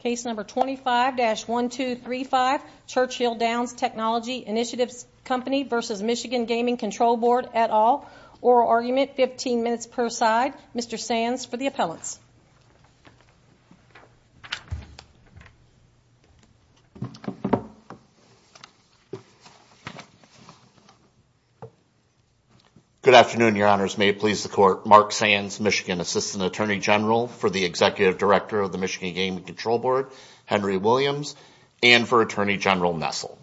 Case number 25-1235, Churchill Downs Technology Initiatives Company v. Michigan Gaming Control Board, et al. Oral argument, 15 minutes per side. Mr. Sands for the appellants. Good afternoon, your honors. May it please the court. Mark Sands, Michigan Assistant Attorney General for the Executive Director of the Michigan Gaming Control Board, Henry Williams, and for Attorney General Nessel.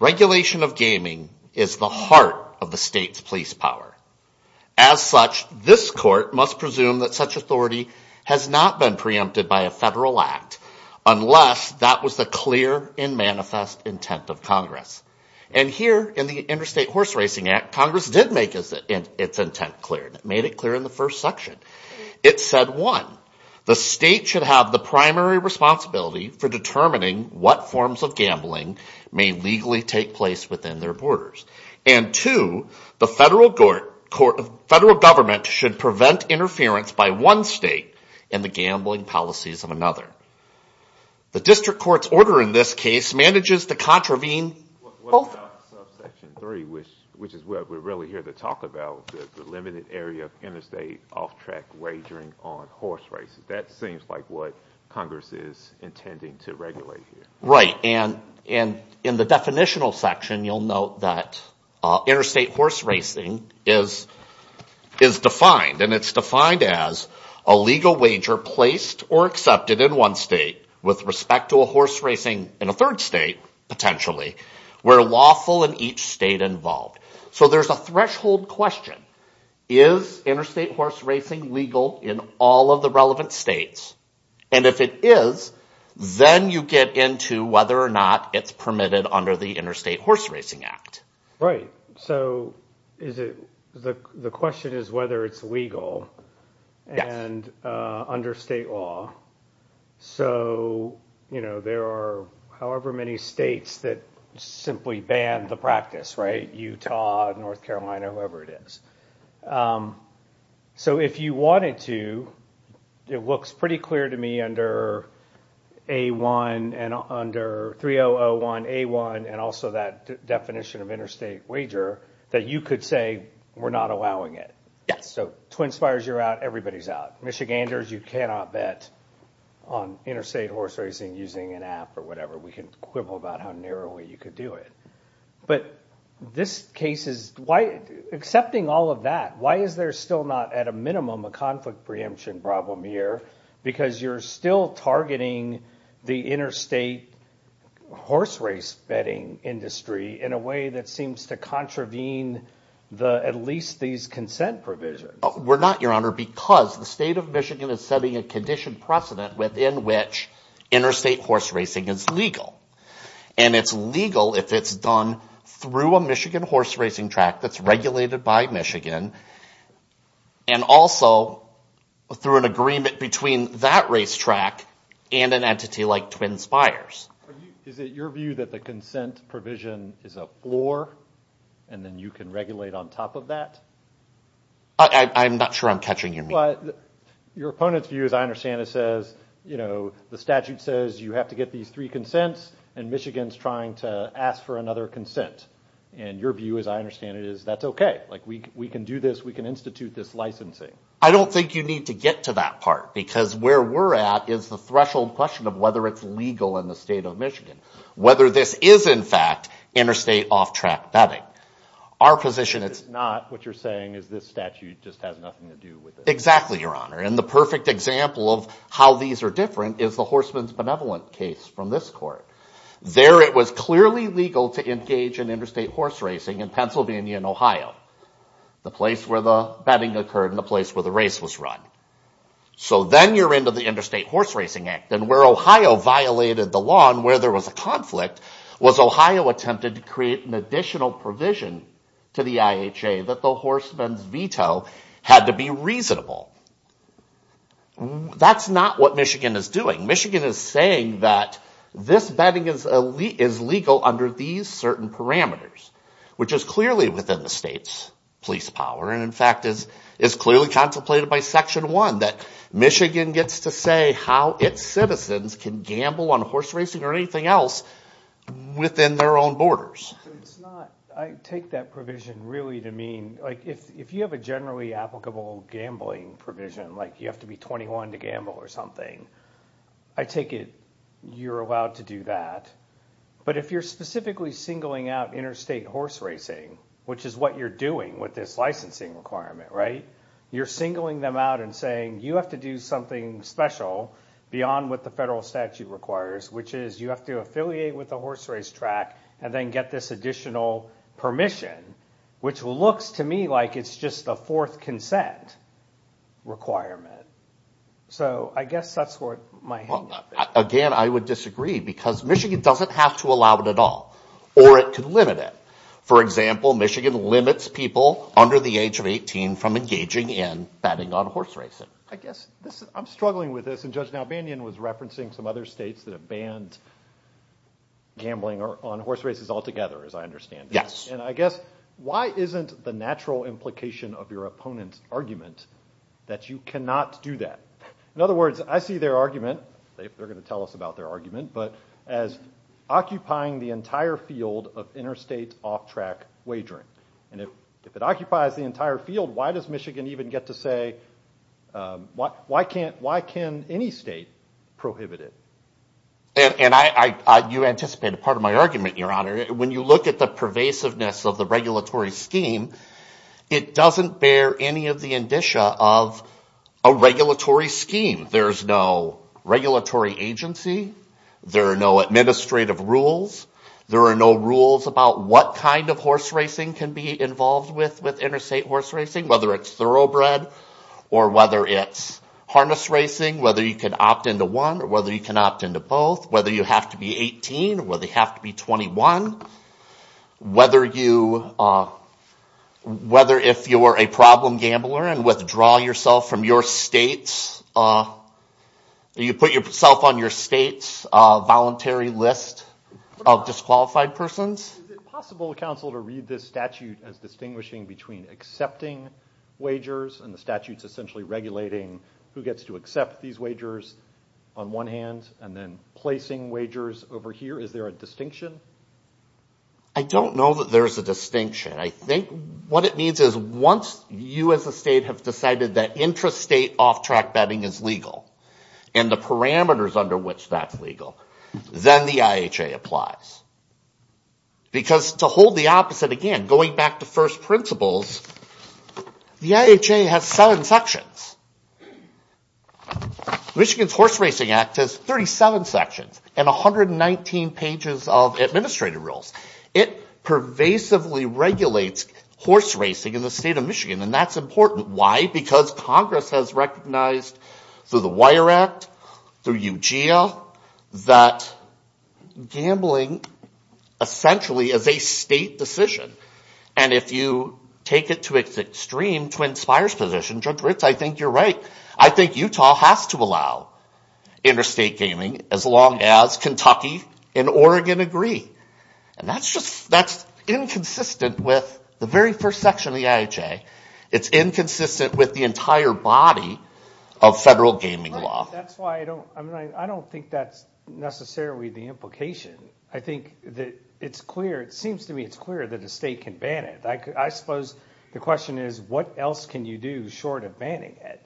Regulation of gaming is the heart of the state's police power. As such, this court must presume that such authority has not been preempted by a federal act unless that was the clear and manifest intent of Congress. And here in the Interstate Horse Racing Act, Congress did make its intent clear. It made it clear in the first section. It said, one, the state should have the primary responsibility for determining what forms of gambling may legally take place within their borders. And two, the federal government should prevent interference by one state in the gambling policies of another. The district court's order in this case manages to contravene both. What about subsection 3, which is what we're really here to talk about, the limited area of interstate off-track wagering on horse races? That seems like what Congress is intending to regulate here. Right. And in the definitional section, you'll note that interstate horse racing is defined. And it's defined as a legal wager placed or accepted in one state with respect to a horse racing in a third state, potentially, where lawful in each state involved. So there's a threshold question. Is interstate horse racing legal in all of the relevant states? And if it is, then you get into whether or not it's permitted under the Interstate Horse Racing Act. Right. So the question is whether it's legal and under state law. So there are however many states that simply ban the practice, right? Utah, North Carolina, whoever it is. So if you wanted to, it looks pretty clear to me under A1 and under 3001A1 and also that definition of interstate wager that you could say we're not allowing it. So Twin Spires, you're out. Everybody's out. Michiganders, you cannot bet on interstate horse racing using an app or whatever. We can quibble about how narrowly you could do it. But this case is why, accepting all of that, why is there still not at a minimum a conflict preemption problem here? Because you're still targeting the interstate horse race betting industry in a way that seems to contravene at least these consent provisions. We're not, Your Honor, because the state of Michigan is setting a condition precedent within which interstate horse racing is legal. And it's legal if it's done through a Michigan horse racing track that's regulated by Michigan and also through an agreement between that race track and an entity like Twin Spires. Is it your view that the consent provision is a floor and then you can regulate on top of that? I'm not sure I'm catching your meaning. Your opponent's view, as I understand it, says the statute says you have to get these three consents and Michigan's trying to ask for another consent. And your view, as I understand it, is that's okay. We can do this. We can institute this licensing. I don't think you need to get to that part because where we're at is the threshold question of whether it's legal in the state of Michigan, whether this is, in fact, interstate off-track betting. It's not. What you're saying is this statute just has nothing to do with it. Exactly, Your Honor. And the perfect example of how these are different is the Horseman's Benevolent case from this court. There it was clearly legal to engage in interstate horse racing in Pennsylvania and Ohio, the place where the betting occurred and the place where the race was run. So then you're into the Interstate Horse Racing Act. And where Ohio violated the law and where there was a conflict was Ohio attempted to create an additional provision to the IHA that the horseman's veto had to be reasonable. That's not what Michigan is doing. Michigan is saying that this betting is legal under these certain parameters, which is clearly within the state's police power and, in fact, is clearly contemplated by Section 1, that Michigan gets to say how its citizens can gamble on horse racing or anything else within their own borders. I take that provision really to mean, like, if you have a generally applicable gambling provision, like you have to be 21 to gamble or something, I take it you're allowed to do that. But if you're specifically singling out interstate horse racing, which is what you're doing with this licensing requirement, right? You're singling them out and saying you have to do something special beyond what the federal statute requires, which is you have to affiliate with the horse race track and then get this additional permission, which looks to me like it's just a fourth consent requirement. So I guess that's what my hand is. I guess I'm struggling with this, and Judge Nalbanyan was referencing some other states that have banned gambling on horse races altogether, as I understand it. And I guess why isn't the natural implication of your opponent's argument that you cannot do that? In other words, I see their argument, they're going to tell us about their argument, but as occupying the entire field of interstate off-track wagering. And if it occupies the entire field, why does Michigan even get to say, why can't, why can any state prohibit it? And you anticipated part of my argument, Your Honor. When you look at the pervasiveness of the regulatory scheme, it doesn't bear any of the indicia of a regulatory scheme. There's no regulatory agency. There are no administrative rules. There are no rules about what kind of horse racing can be involved with interstate horse racing, whether it's thoroughbred or whether it's harness racing. Whether you can opt into one or whether you can opt into both. Whether you have to be 18 or whether you have to be 21. Whether you, whether if you're a problem gambler and withdraw yourself from your state's, you put yourself on your state's voluntary list of disqualified persons. Is it possible, counsel, to read this statute as distinguishing between accepting wagers and the statutes essentially regulating who gets to accept these wagers on one hand and then placing wagers over here? Is there a distinction? I don't know that there's a distinction. I think what it means is once you as a state have decided that intrastate off-track betting is legal and the parameters under which that's legal, then the IHA applies. Because to hold the opposite again, going back to first principles, the IHA has seven sections. Michigan's Horse Racing Act has 37 sections and 119 pages of administrative rules. It pervasively regulates horse racing in the state of Michigan, and that's important. Because Congress has recognized through the Wire Act, through UGA, that gambling essentially is a state decision. And if you take it to its extreme, Twin Spires position, Judge Ritz, I think you're right. I think Utah has to allow interstate gaming as long as Kentucky and Oregon agree. And that's inconsistent with the very first section of the IHA. It's inconsistent with the entire body of federal gaming law. That's why I don't think that's necessarily the implication. I think that it's clear. It seems to me it's clear that a state can ban it. I suppose the question is what else can you do short of banning it?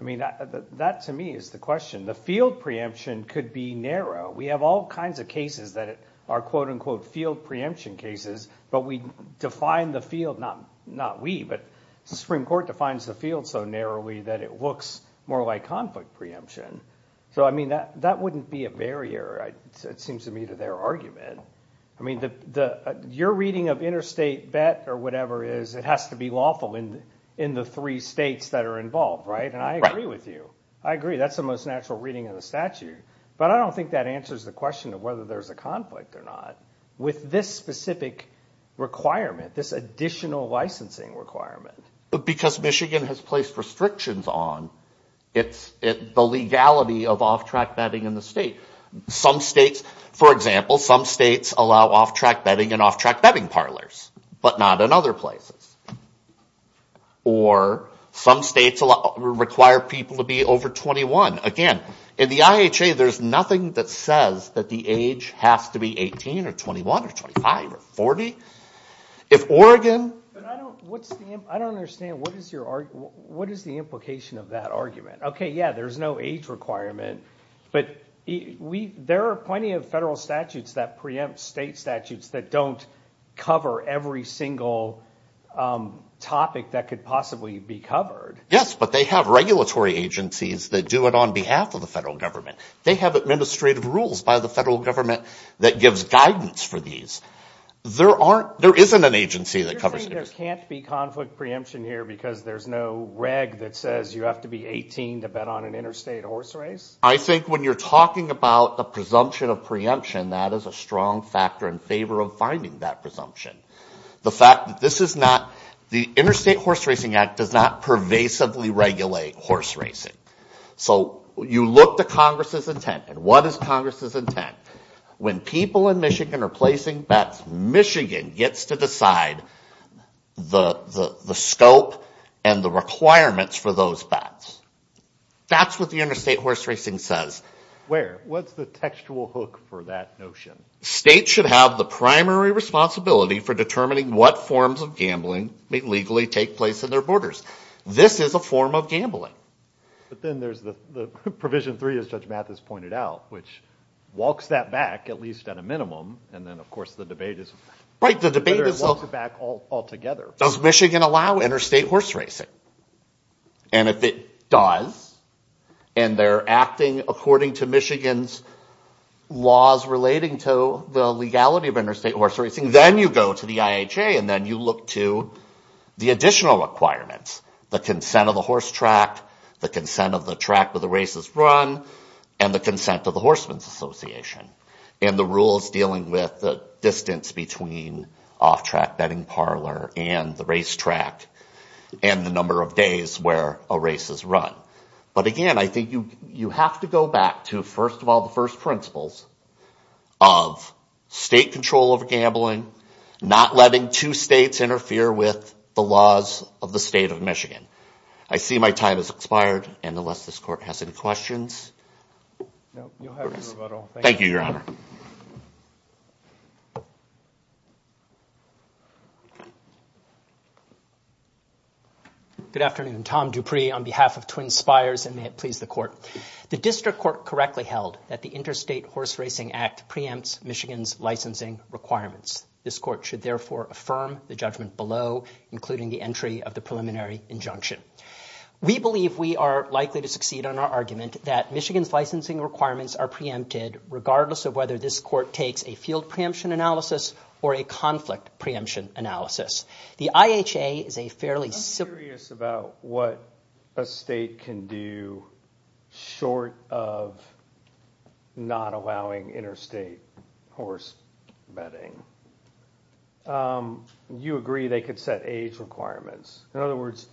I mean, that to me is the question. The field preemption could be narrow. We have all kinds of cases that are, quote, unquote, field preemption cases. But we define the field, not we, but the Supreme Court defines the field so narrowly that it looks more like conflict preemption. So, I mean, that wouldn't be a barrier, it seems to me, to their argument. I mean, your reading of interstate bet or whatever is it has to be lawful in the three states that are involved, right? And I agree with you. I agree. That's the most natural reading of the statute. But I don't think that answers the question of whether there's a conflict or not with this specific requirement, this additional licensing requirement. Because Michigan has placed restrictions on the legality of off-track betting in the state. Some states, for example, some states allow off-track betting in off-track betting parlors, but not in other places. Or some states require people to be over 21. Again, in the IHA, there's nothing that says that the age has to be 18 or 21 or 25 or 40. If Oregon. But I don't understand what is the implication of that argument? Okay, yeah, there's no age requirement. But there are plenty of federal statutes that preempt state statutes that don't cover every single topic that could possibly be covered. Yes, but they have regulatory agencies that do it on behalf of the federal government. They have administrative rules by the federal government that gives guidance for these. There isn't an agency that covers it. You're saying there can't be conflict preemption here because there's no reg that says you have to be 18 to bet on an interstate horse race? I think when you're talking about a presumption of preemption, that is a strong factor in favor of finding that presumption. The fact that this is not, the Interstate Horse Racing Act does not pervasively regulate horse racing. So you look to Congress's intent. And what is Congress's intent? When people in Michigan are placing bets, Michigan gets to decide the scope and the requirements for those bets. That's what the interstate horse racing says. Where? What's the textual hook for that notion? States should have the primary responsibility for determining what forms of gambling may legally take place in their borders. This is a form of gambling. But then there's the provision three, as Judge Mathis pointed out, which walks that back, at least at a minimum. And then, of course, the debate is whether it walks it back altogether. Does Michigan allow interstate horse racing? And if it does, and they're acting according to Michigan's laws relating to the legality of interstate horse racing, then you go to the IHA, and then you look to the additional requirements. The consent of the horse track, the consent of the track where the race is run, and the consent of the Horsemen's Association. And the rules dealing with the distance between off-track betting parlor and the race track, and the number of days where a race is run. But again, I think you have to go back to, first of all, the first principles of state control over gambling, not letting two states interfere with the laws of the state of Michigan. I see my time has expired, and unless this court has any questions. Thank you, Your Honor. Good afternoon. Tom Dupree on behalf of Twin Spires, and may it please the court. The district court correctly held that the Interstate Horse Racing Act preempts Michigan's licensing requirements. This court should therefore affirm the judgment below, including the entry of the preliminary injunction. We believe we are likely to succeed on our argument that Michigan's licensing requirements are preempted, regardless of whether this court takes a field preemption analysis or a conflict preemption analysis. The IHA is a fairly simple… I'm curious about what a state can do short of not allowing interstate horse betting. You agree they could set age requirements. In other words,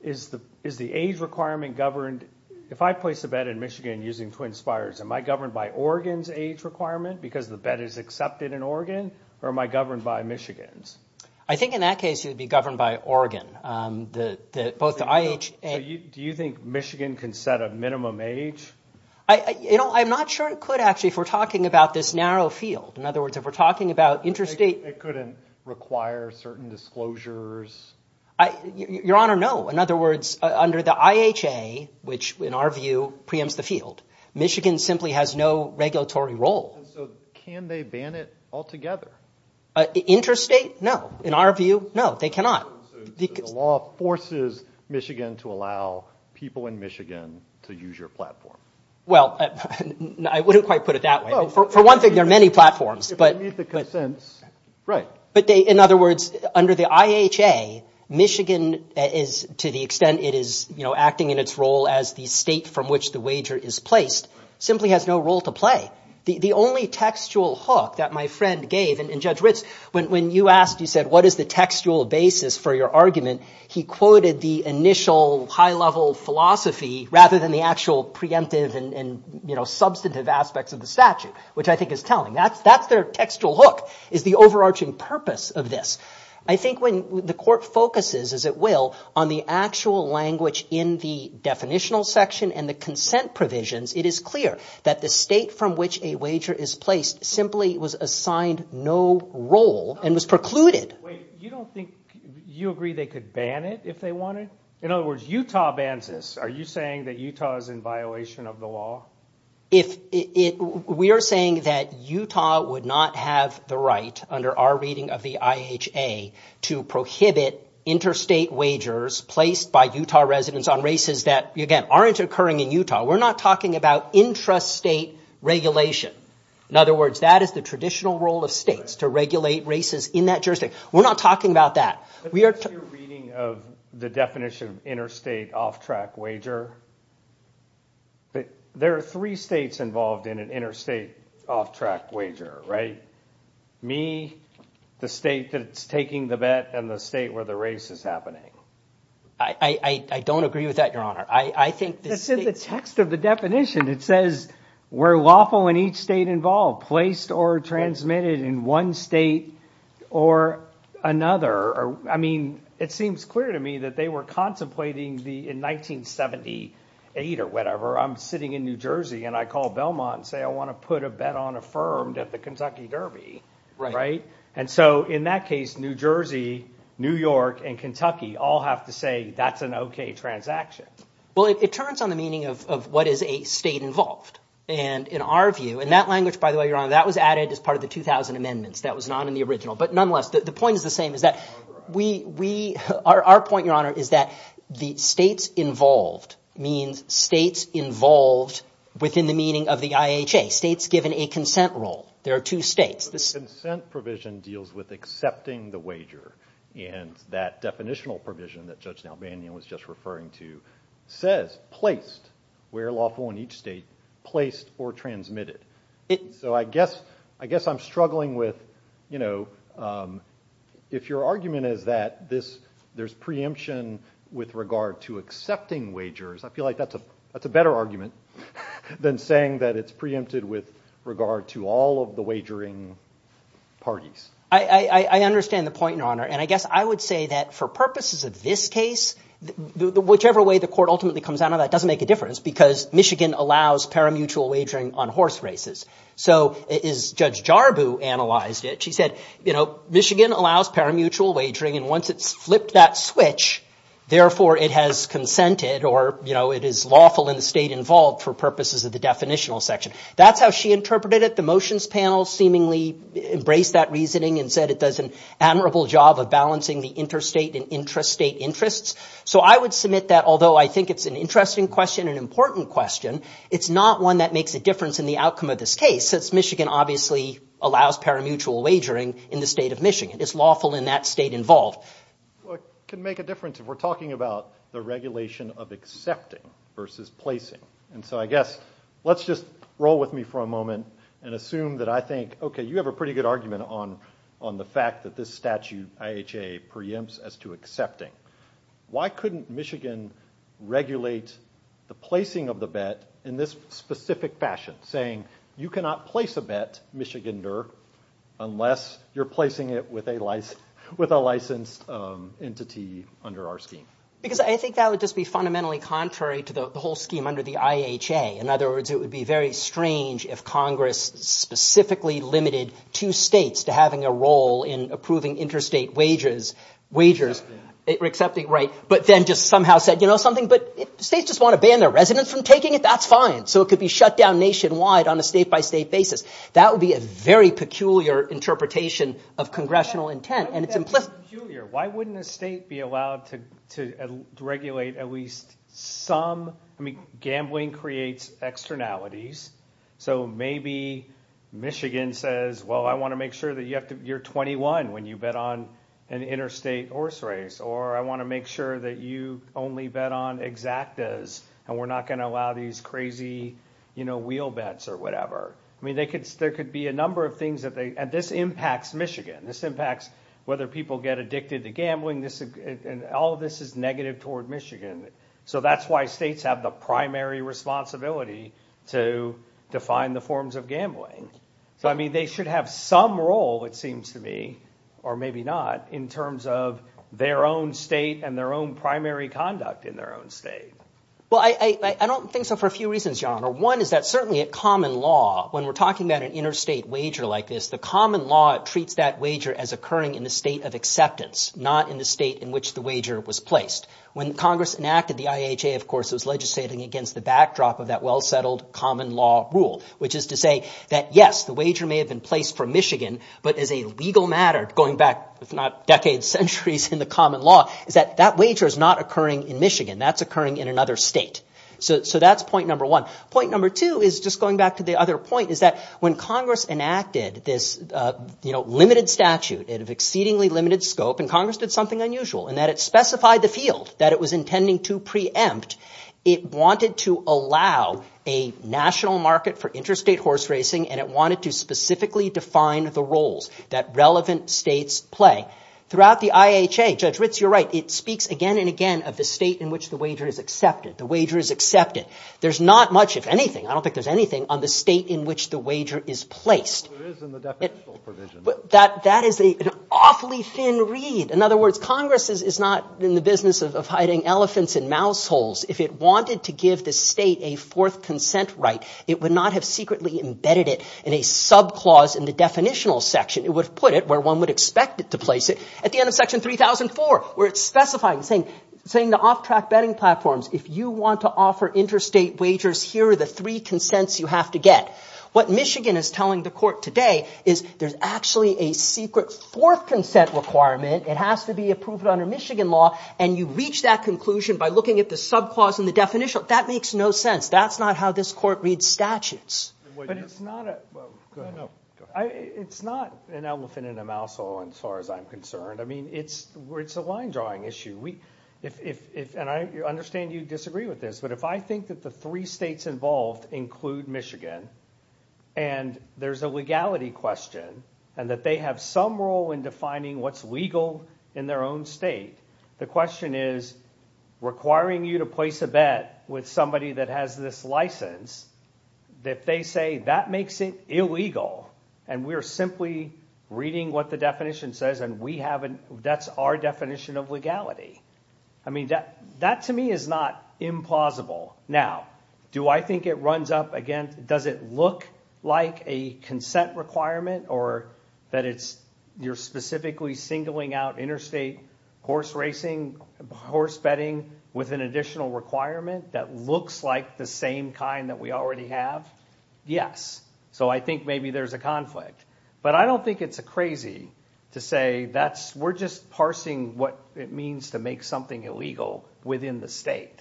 is the age requirement governed? If I place a bet in Michigan using Twin Spires, am I governed by Oregon's age requirement because the bet is accepted in Oregon, or am I governed by Michigan's? I think in that case, it would be governed by Oregon. Both the IHA… Do you think Michigan can set a minimum age? I'm not sure it could, actually, if we're talking about this narrow field. In other words, if we're talking about interstate… It couldn't require certain disclosures? Your Honor, no. In other words, under the IHA, which in our view preempts the field, Michigan simply has no regulatory role. Can they ban it altogether? Interstate, no. In our view, no, they cannot. The law forces Michigan to allow people in Michigan to use your platform. Well, I wouldn't quite put it that way. For one thing, there are many platforms, but… If they meet the consents, right. In other words, under the IHA, Michigan is, to the extent it is acting in its role as the state from which the wager is placed, simply has no role to play. The only textual hook that my friend gave, and Judge Ritz, when you asked, you said, what is the textual basis for your argument, he quoted the initial high-level philosophy rather than the actual preemptive and substantive aspects of the statute, which I think is telling. That's their textual hook. Is the overarching purpose of this. I think when the court focuses, as it will, on the actual language in the definitional section and the consent provisions, it is clear that the state from which a wager is placed simply was assigned no role and was precluded. Wait, you don't think, you agree they could ban it if they wanted? In other words, Utah bans this. Are you saying that Utah is in violation of the law? We are saying that Utah would not have the right, under our reading of the IHA, to prohibit interstate wagers placed by Utah residents on races that, again, aren't occurring in Utah. We're not talking about intrastate regulation. In other words, that is the traditional role of states, to regulate races in that jurisdiction. We're not talking about that. That's your reading of the definition of interstate off-track wager. There are three states involved in an interstate off-track wager, right? Me, the state that's taking the bet, and the state where the race is happening. I don't agree with that, Your Honor. I think the state... That's in the text of the definition. It says we're lawful in each state involved, placed or transmitted in one state or another. I mean, it seems clear to me that they were contemplating in 1978 or whatever, I'm sitting in New Jersey, and I call Belmont and say, I want to put a bet on affirmed at the Kentucky Derby, right? And so in that case, New Jersey, New York, and Kentucky all have to say, that's an okay transaction. Well, it turns on the meaning of what is a state involved. And in our view, and that language, by the way, Your Honor, that was added as part of the 2000 amendments. That was not in the original. But nonetheless, the point is the same. Our point, Your Honor, is that the states involved means states involved within the meaning of the IHA. States given a consent role. There are two states. The consent provision deals with accepting the wager, and that definitional provision that Judge Nalbanyan was just referring to says placed. We're lawful in each state placed or transmitted. So I guess I'm struggling with, you know, if your argument is that there's preemption with regard to accepting wagers, I feel like that's a better argument than saying that it's preempted with regard to all of the wagering parties. I understand the point, Your Honor. And I guess I would say that for purposes of this case, whichever way the court ultimately comes out of that doesn't make a difference because Michigan allows paramutual wagering on horse races. So as Judge Jarboe analyzed it, she said, you know, Michigan allows paramutual wagering, and once it's flipped that switch, therefore it has consented or, you know, it is lawful in the state involved for purposes of the definitional section. That's how she interpreted it. The motions panel seemingly embraced that reasoning and said it does an admirable job of balancing the interstate and intrastate interests. So I would submit that although I think it's an interesting question, an important question, it's not one that makes a difference in the outcome of this case since Michigan obviously allows paramutual wagering in the state of Michigan. It's lawful in that state involved. Well, it can make a difference if we're talking about the regulation of accepting versus placing. And so I guess let's just roll with me for a moment and assume that I think, okay, you have a pretty good argument on the fact that this statute IHA preempts as to accepting. Why couldn't Michigan regulate the placing of the bet in this specific fashion, saying you cannot place a bet, Michigander, unless you're placing it with a licensed entity under our scheme? Because I think that would just be fundamentally contrary to the whole scheme under the IHA. In other words, it would be very strange if Congress specifically limited two states to having a role in approving interstate wages, but then just somehow said, you know something, but states just want to ban their residents from taking it. That's fine. So it could be shut down nationwide on a state-by-state basis. That would be a very peculiar interpretation of congressional intent. Why wouldn't that be peculiar? Why wouldn't a state be allowed to regulate at least some – I mean gambling creates externalities. So maybe Michigan says, well, I want to make sure that you're 21 when you bet on an interstate horse race, or I want to make sure that you only bet on exactas and we're not going to allow these crazy wheel bets or whatever. I mean there could be a number of things that they – and this impacts Michigan. This impacts whether people get addicted to gambling. All of this is negative toward Michigan. So that's why states have the primary responsibility to define the forms of gambling. So, I mean, they should have some role, it seems to me, or maybe not, in terms of their own state and their own primary conduct in their own state. Well, I don't think so for a few reasons, John. One is that certainly a common law, when we're talking about an interstate wager like this, the common law treats that wager as occurring in the state of acceptance, not in the state in which the wager was placed. When Congress enacted the IHA, of course, it was legislating against the backdrop of that well-settled common law rule, which is to say that, yes, the wager may have been placed for Michigan, but as a legal matter going back, if not decades, centuries in the common law, is that that wager is not occurring in Michigan. That's occurring in another state. So that's point number one. Point number two is just going back to the other point, is that when Congress enacted this limited statute of exceedingly limited scope and Congress did something unusual in that it specified the field that it was intending to preempt, it wanted to allow a national market for interstate horse racing and it wanted to specifically define the roles that relevant states play. Throughout the IHA, Judge Ritz, you're right, it speaks again and again of the state in which the wager is accepted. The wager is accepted. There's not much, if anything, I don't think there's anything, on the state in which the wager is placed. There is in the definition of provision. That is an awfully thin read. In other words, Congress is not in the business of hiding elephants in mouse holes. If it wanted to give the state a fourth consent right, it would not have secretly embedded it in a subclause in the definitional section. It would have put it where one would expect it to place it, at the end of section 3004 where it's specifying, saying the off-track betting platforms, if you want to offer interstate wagers, here are the three consents you have to get. What Michigan is telling the court today is there's actually a secret fourth consent requirement. It has to be approved under Michigan law, and you reach that conclusion by looking at the subclause in the definitional. That makes no sense. That's not how this court reads statutes. But it's not an elephant in a mouse hole as far as I'm concerned. I mean, it's a line drawing issue. And I understand you disagree with this, but if I think that the three states involved include Michigan, and there's a legality question, and that they have some role in defining what's legal in their own state, the question is requiring you to place a bet with somebody that has this license, if they say that makes it illegal, and we're simply reading what the definition says, and that's our definition of legality. I mean, that to me is not implausible. Now, do I think it runs up against, does it look like a consent requirement, or that you're specifically singling out interstate horse racing, horse betting with an additional requirement that looks like the same kind that we already have? Yes. So I think maybe there's a conflict. But I don't think it's crazy to say we're just parsing what it means to make something illegal within the state.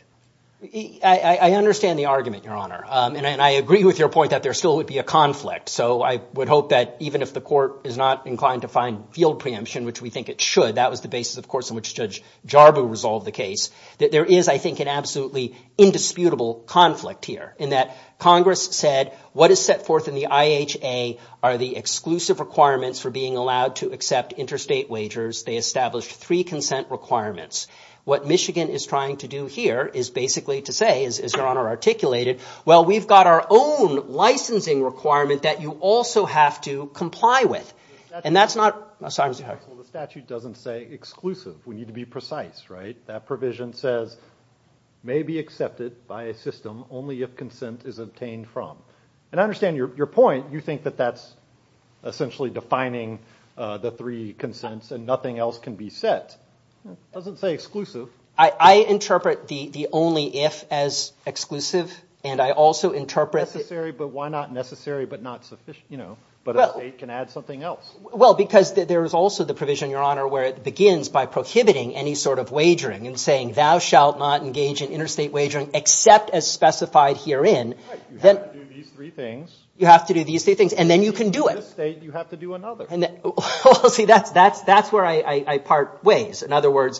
I understand the argument, Your Honor, and I agree with your point that there still would be a conflict. So I would hope that even if the court is not inclined to find field preemption, which we think it should, that was the basis, of course, in which Judge Jarboe resolved the case, that there is, I think, an absolutely indisputable conflict here, in that Congress said what is set forth in the IHA are the exclusive requirements for being allowed to accept interstate wagers. They established three consent requirements. What Michigan is trying to do here is basically to say, as Your Honor articulated, well, we've got our own licensing requirement that you also have to comply with. And that's not – Well, the statute doesn't say exclusive. We need to be precise, right? That provision says may be accepted by a system only if consent is obtained from. And I understand your point. You think that that's essentially defining the three consents and nothing else can be set. It doesn't say exclusive. I interpret the only if as exclusive, and I also interpret – Necessary, but why not necessary but not sufficient, you know, but a state can add something else. Well, because there is also the provision, Your Honor, where it begins by prohibiting any sort of wagering and saying thou shalt not engage in interstate wagering except as specified herein. Right. You have to do these three things. You have to do these three things, and then you can do it. In this state, you have to do another. Well, see, that's where I part ways. In other words,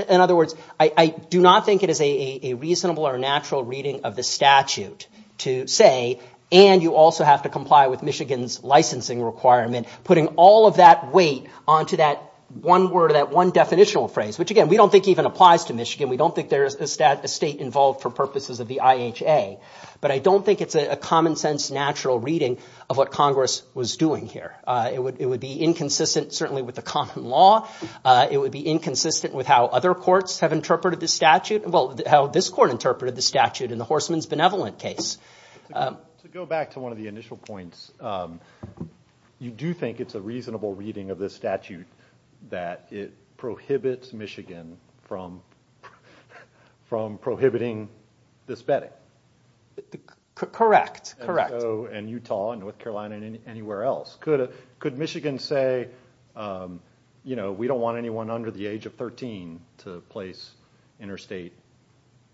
I do not think it is a reasonable or natural reading of the statute to say, and you also have to comply with Michigan's licensing requirement, putting all of that weight onto that one word, that one definitional phrase, which, again, we don't think even applies to Michigan. We don't think there is a state involved for purposes of the IHA, but I don't think it's a common-sense, natural reading of what Congress was doing here. It would be inconsistent certainly with the common law. It would be inconsistent with how other courts have interpreted this statute, well, how this court interpreted the statute in the Horstman's Benevolent case. To go back to one of the initial points, you do think it's a reasonable reading of this statute that it prohibits Michigan from prohibiting this betting? Correct. And so in Utah and North Carolina and anywhere else. Could Michigan say, you know, we don't want anyone under the age of 13 to place interstate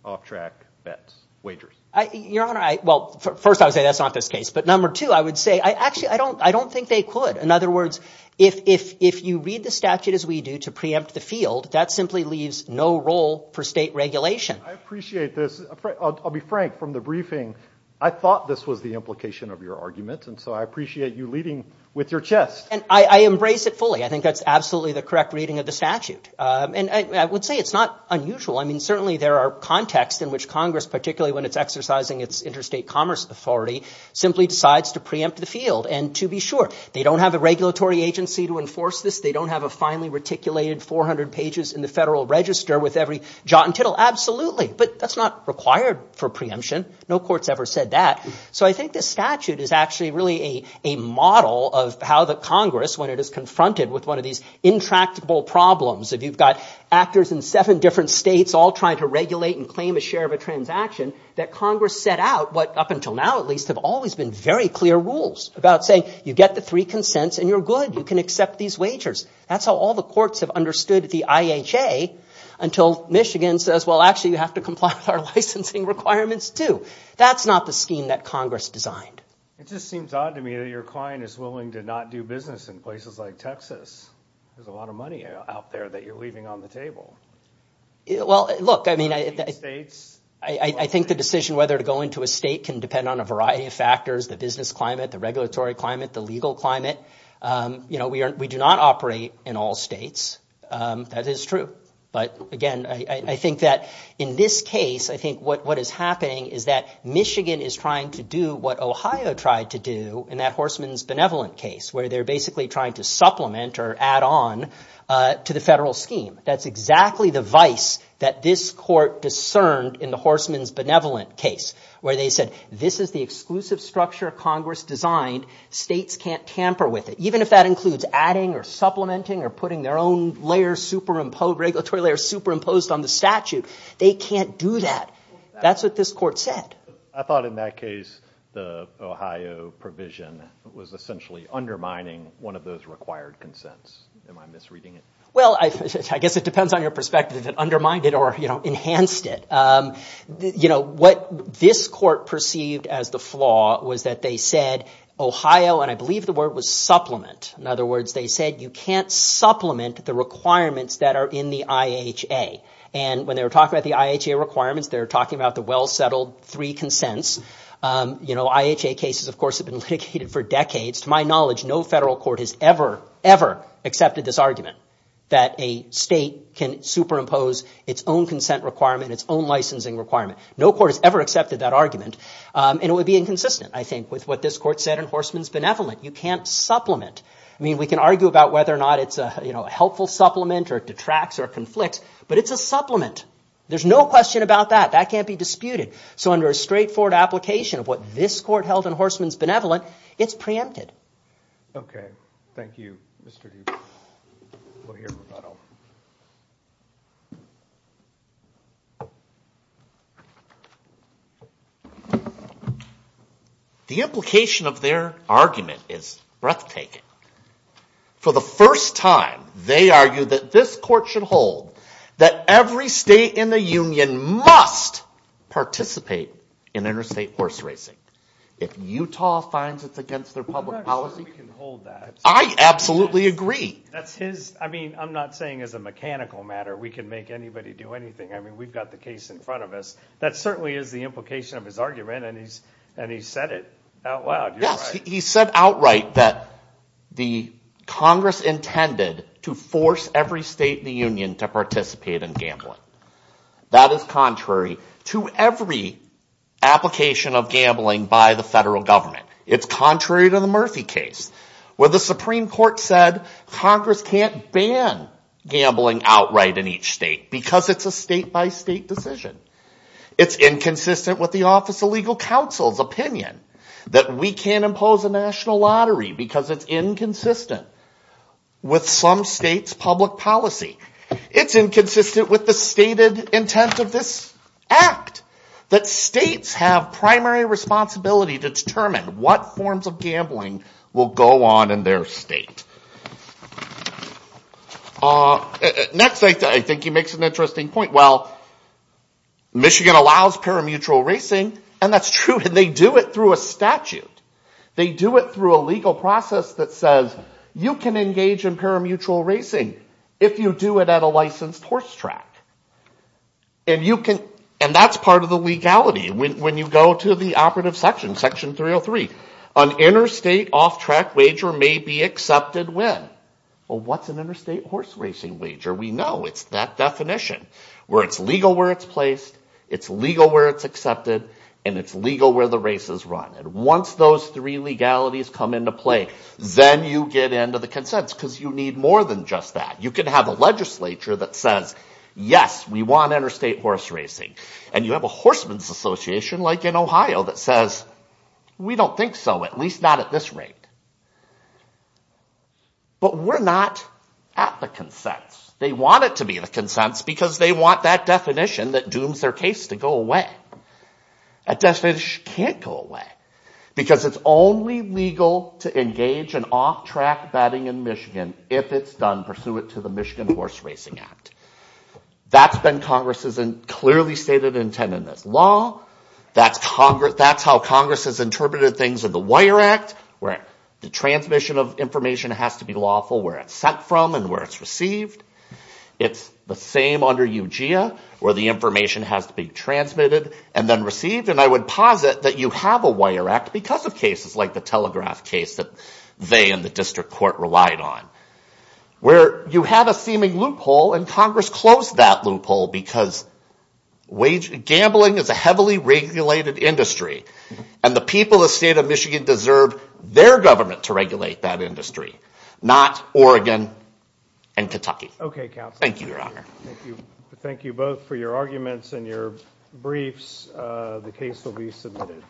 off-track bets, wagers? Your Honor, well, first I would say that's not this case, but number two, I would say actually I don't think they could. In other words, if you read the statute as we do to preempt the field, that simply leaves no role for state regulation. I appreciate this. I'll be frank. From the briefing, I thought this was the implication of your argument, and so I appreciate you leading with your chest. And I embrace it fully. I think that's absolutely the correct reading of the statute. And I would say it's not unusual. I mean, certainly there are contexts in which Congress, particularly when it's exercising its interstate commerce authority, simply decides to preempt the field. And to be sure, they don't have a regulatory agency to enforce this. They don't have a finely reticulated 400 pages in the federal register with every jot and tittle. Absolutely. But that's not required for preemption. No court's ever said that. So I think this statute is actually really a model of how the Congress, when it is confronted with one of these intractable problems, if you've got actors in seven different states all trying to regulate and claim a share of a transaction, that Congress set out what up until now, at least, have always been very clear rules about saying you get the three consents and you're good, you can accept these wagers. That's how all the courts have understood the IHA until Michigan says, well, actually you have to comply with our licensing requirements too. That's not the scheme that Congress designed. It just seems odd to me that your client is willing to not do business in places like Texas. There's a lot of money out there that you're leaving on the table. Well, look, I mean, I think the decision whether to go into a state can depend on a variety of factors, the business climate, the regulatory climate, the legal climate. You know, we do not operate in all states. That is true. But, again, I think that in this case, I think what is happening is that Michigan is trying to do what Ohio tried to do in that Horseman's Benevolent case, where they're basically trying to supplement or add on to the federal scheme. That's exactly the vice that this court discerned in the Horseman's Benevolent case, where they said this is the exclusive structure Congress designed. States can't tamper with it, even if that includes adding or supplementing or putting their own regulatory layer superimposed on the statute. They can't do that. That's what this court said. I thought in that case the Ohio provision was essentially undermining one of those required consents. Am I misreading it? Well, I guess it depends on your perspective if it undermined it or, you know, enhanced it. You know, what this court perceived as the flaw was that they said Ohio, and I believe the word was supplement. In other words, they said you can't supplement the requirements that are in the IHA. And when they were talking about the IHA requirements, they were talking about the well-settled three consents. You know, IHA cases, of course, have been litigated for decades. To my knowledge, no federal court has ever, ever accepted this argument that a state can superimpose its own consent requirement, its own licensing requirement. No court has ever accepted that argument. And it would be inconsistent, I think, with what this court said in Horseman's Benevolent. You can't supplement. I mean, we can argue about whether or not it's a, you know, a helpful supplement or detracts or conflicts, but it's a supplement. There's no question about that. That can't be disputed. So under a straightforward application of what this court held in Horseman's Benevolent, it's preempted. Okay. Thank you, Mr. Dupree. We'll hear from that over. The implication of their argument is breathtaking. For the first time, they argue that this court should hold that every state in the union must participate in interstate horse racing. If Utah finds it's against their public policy. I'm not sure we can hold that. I absolutely agree. That's his, I mean, I'm not saying as a mechanical matter we can make anybody do anything. I mean, we've got the case in front of us. That certainly is the implication of his argument, and he's said it out loud. Yes. He said outright that the Congress intended to force every state in the union to participate in gambling. That is contrary to every application of gambling by the federal government. It's contrary to the Murphy case. Where the Supreme Court said Congress can't ban gambling outright in each state because it's a state-by-state decision. It's inconsistent with the Office of Legal Counsel's opinion that we can't impose a national lottery because it's inconsistent with some state's public policy. It's inconsistent with the stated intent of this act that states have primary responsibility to determine what forms of gambling will go on in their state. Next, I think he makes an interesting point. Well, Michigan allows parimutuel racing, and that's true, and they do it through a statute. They do it through a legal process that says you can engage in parimutuel racing if you do it at a licensed horse track. And that's part of the legality. When you go to the operative section, Section 303, an interstate off-track wager may be accepted when? Well, what's an interstate horse racing wager? We know it's that definition where it's legal where it's placed, it's legal where it's accepted, and it's legal where the race is run. And once those three legalities come into play, then you get into the consents because you need more than just that. You could have a legislature that says, yes, we want interstate horse racing. And you have a horseman's association like in Ohio that says, we don't think so, at least not at this rate. But we're not at the consents. They want it to be the consents because they want that definition that dooms their case to go away. That definition can't go away because it's only legal to engage in off-track betting in Michigan if it's done pursuant to the Michigan Horse Racing Act. That's been Congress's clearly stated intent in this law. That's how Congress has interpreted things in the Wire Act where the transmission of information has to be lawful where it's sent from and where it's received. It's the same under UGIA where the information has to be transmitted and then received. And I would posit that you have a Wire Act because of cases like the Telegraph case that they and the district court relied on. Where you have a seeming loophole and Congress closed that loophole because gambling is a heavily regulated industry. And the people of the state of Michigan deserve their government to regulate that industry, not Oregon and Kentucky. Thank you, Your Honor. Thank you both for your arguments and your briefs. The case will be submitted.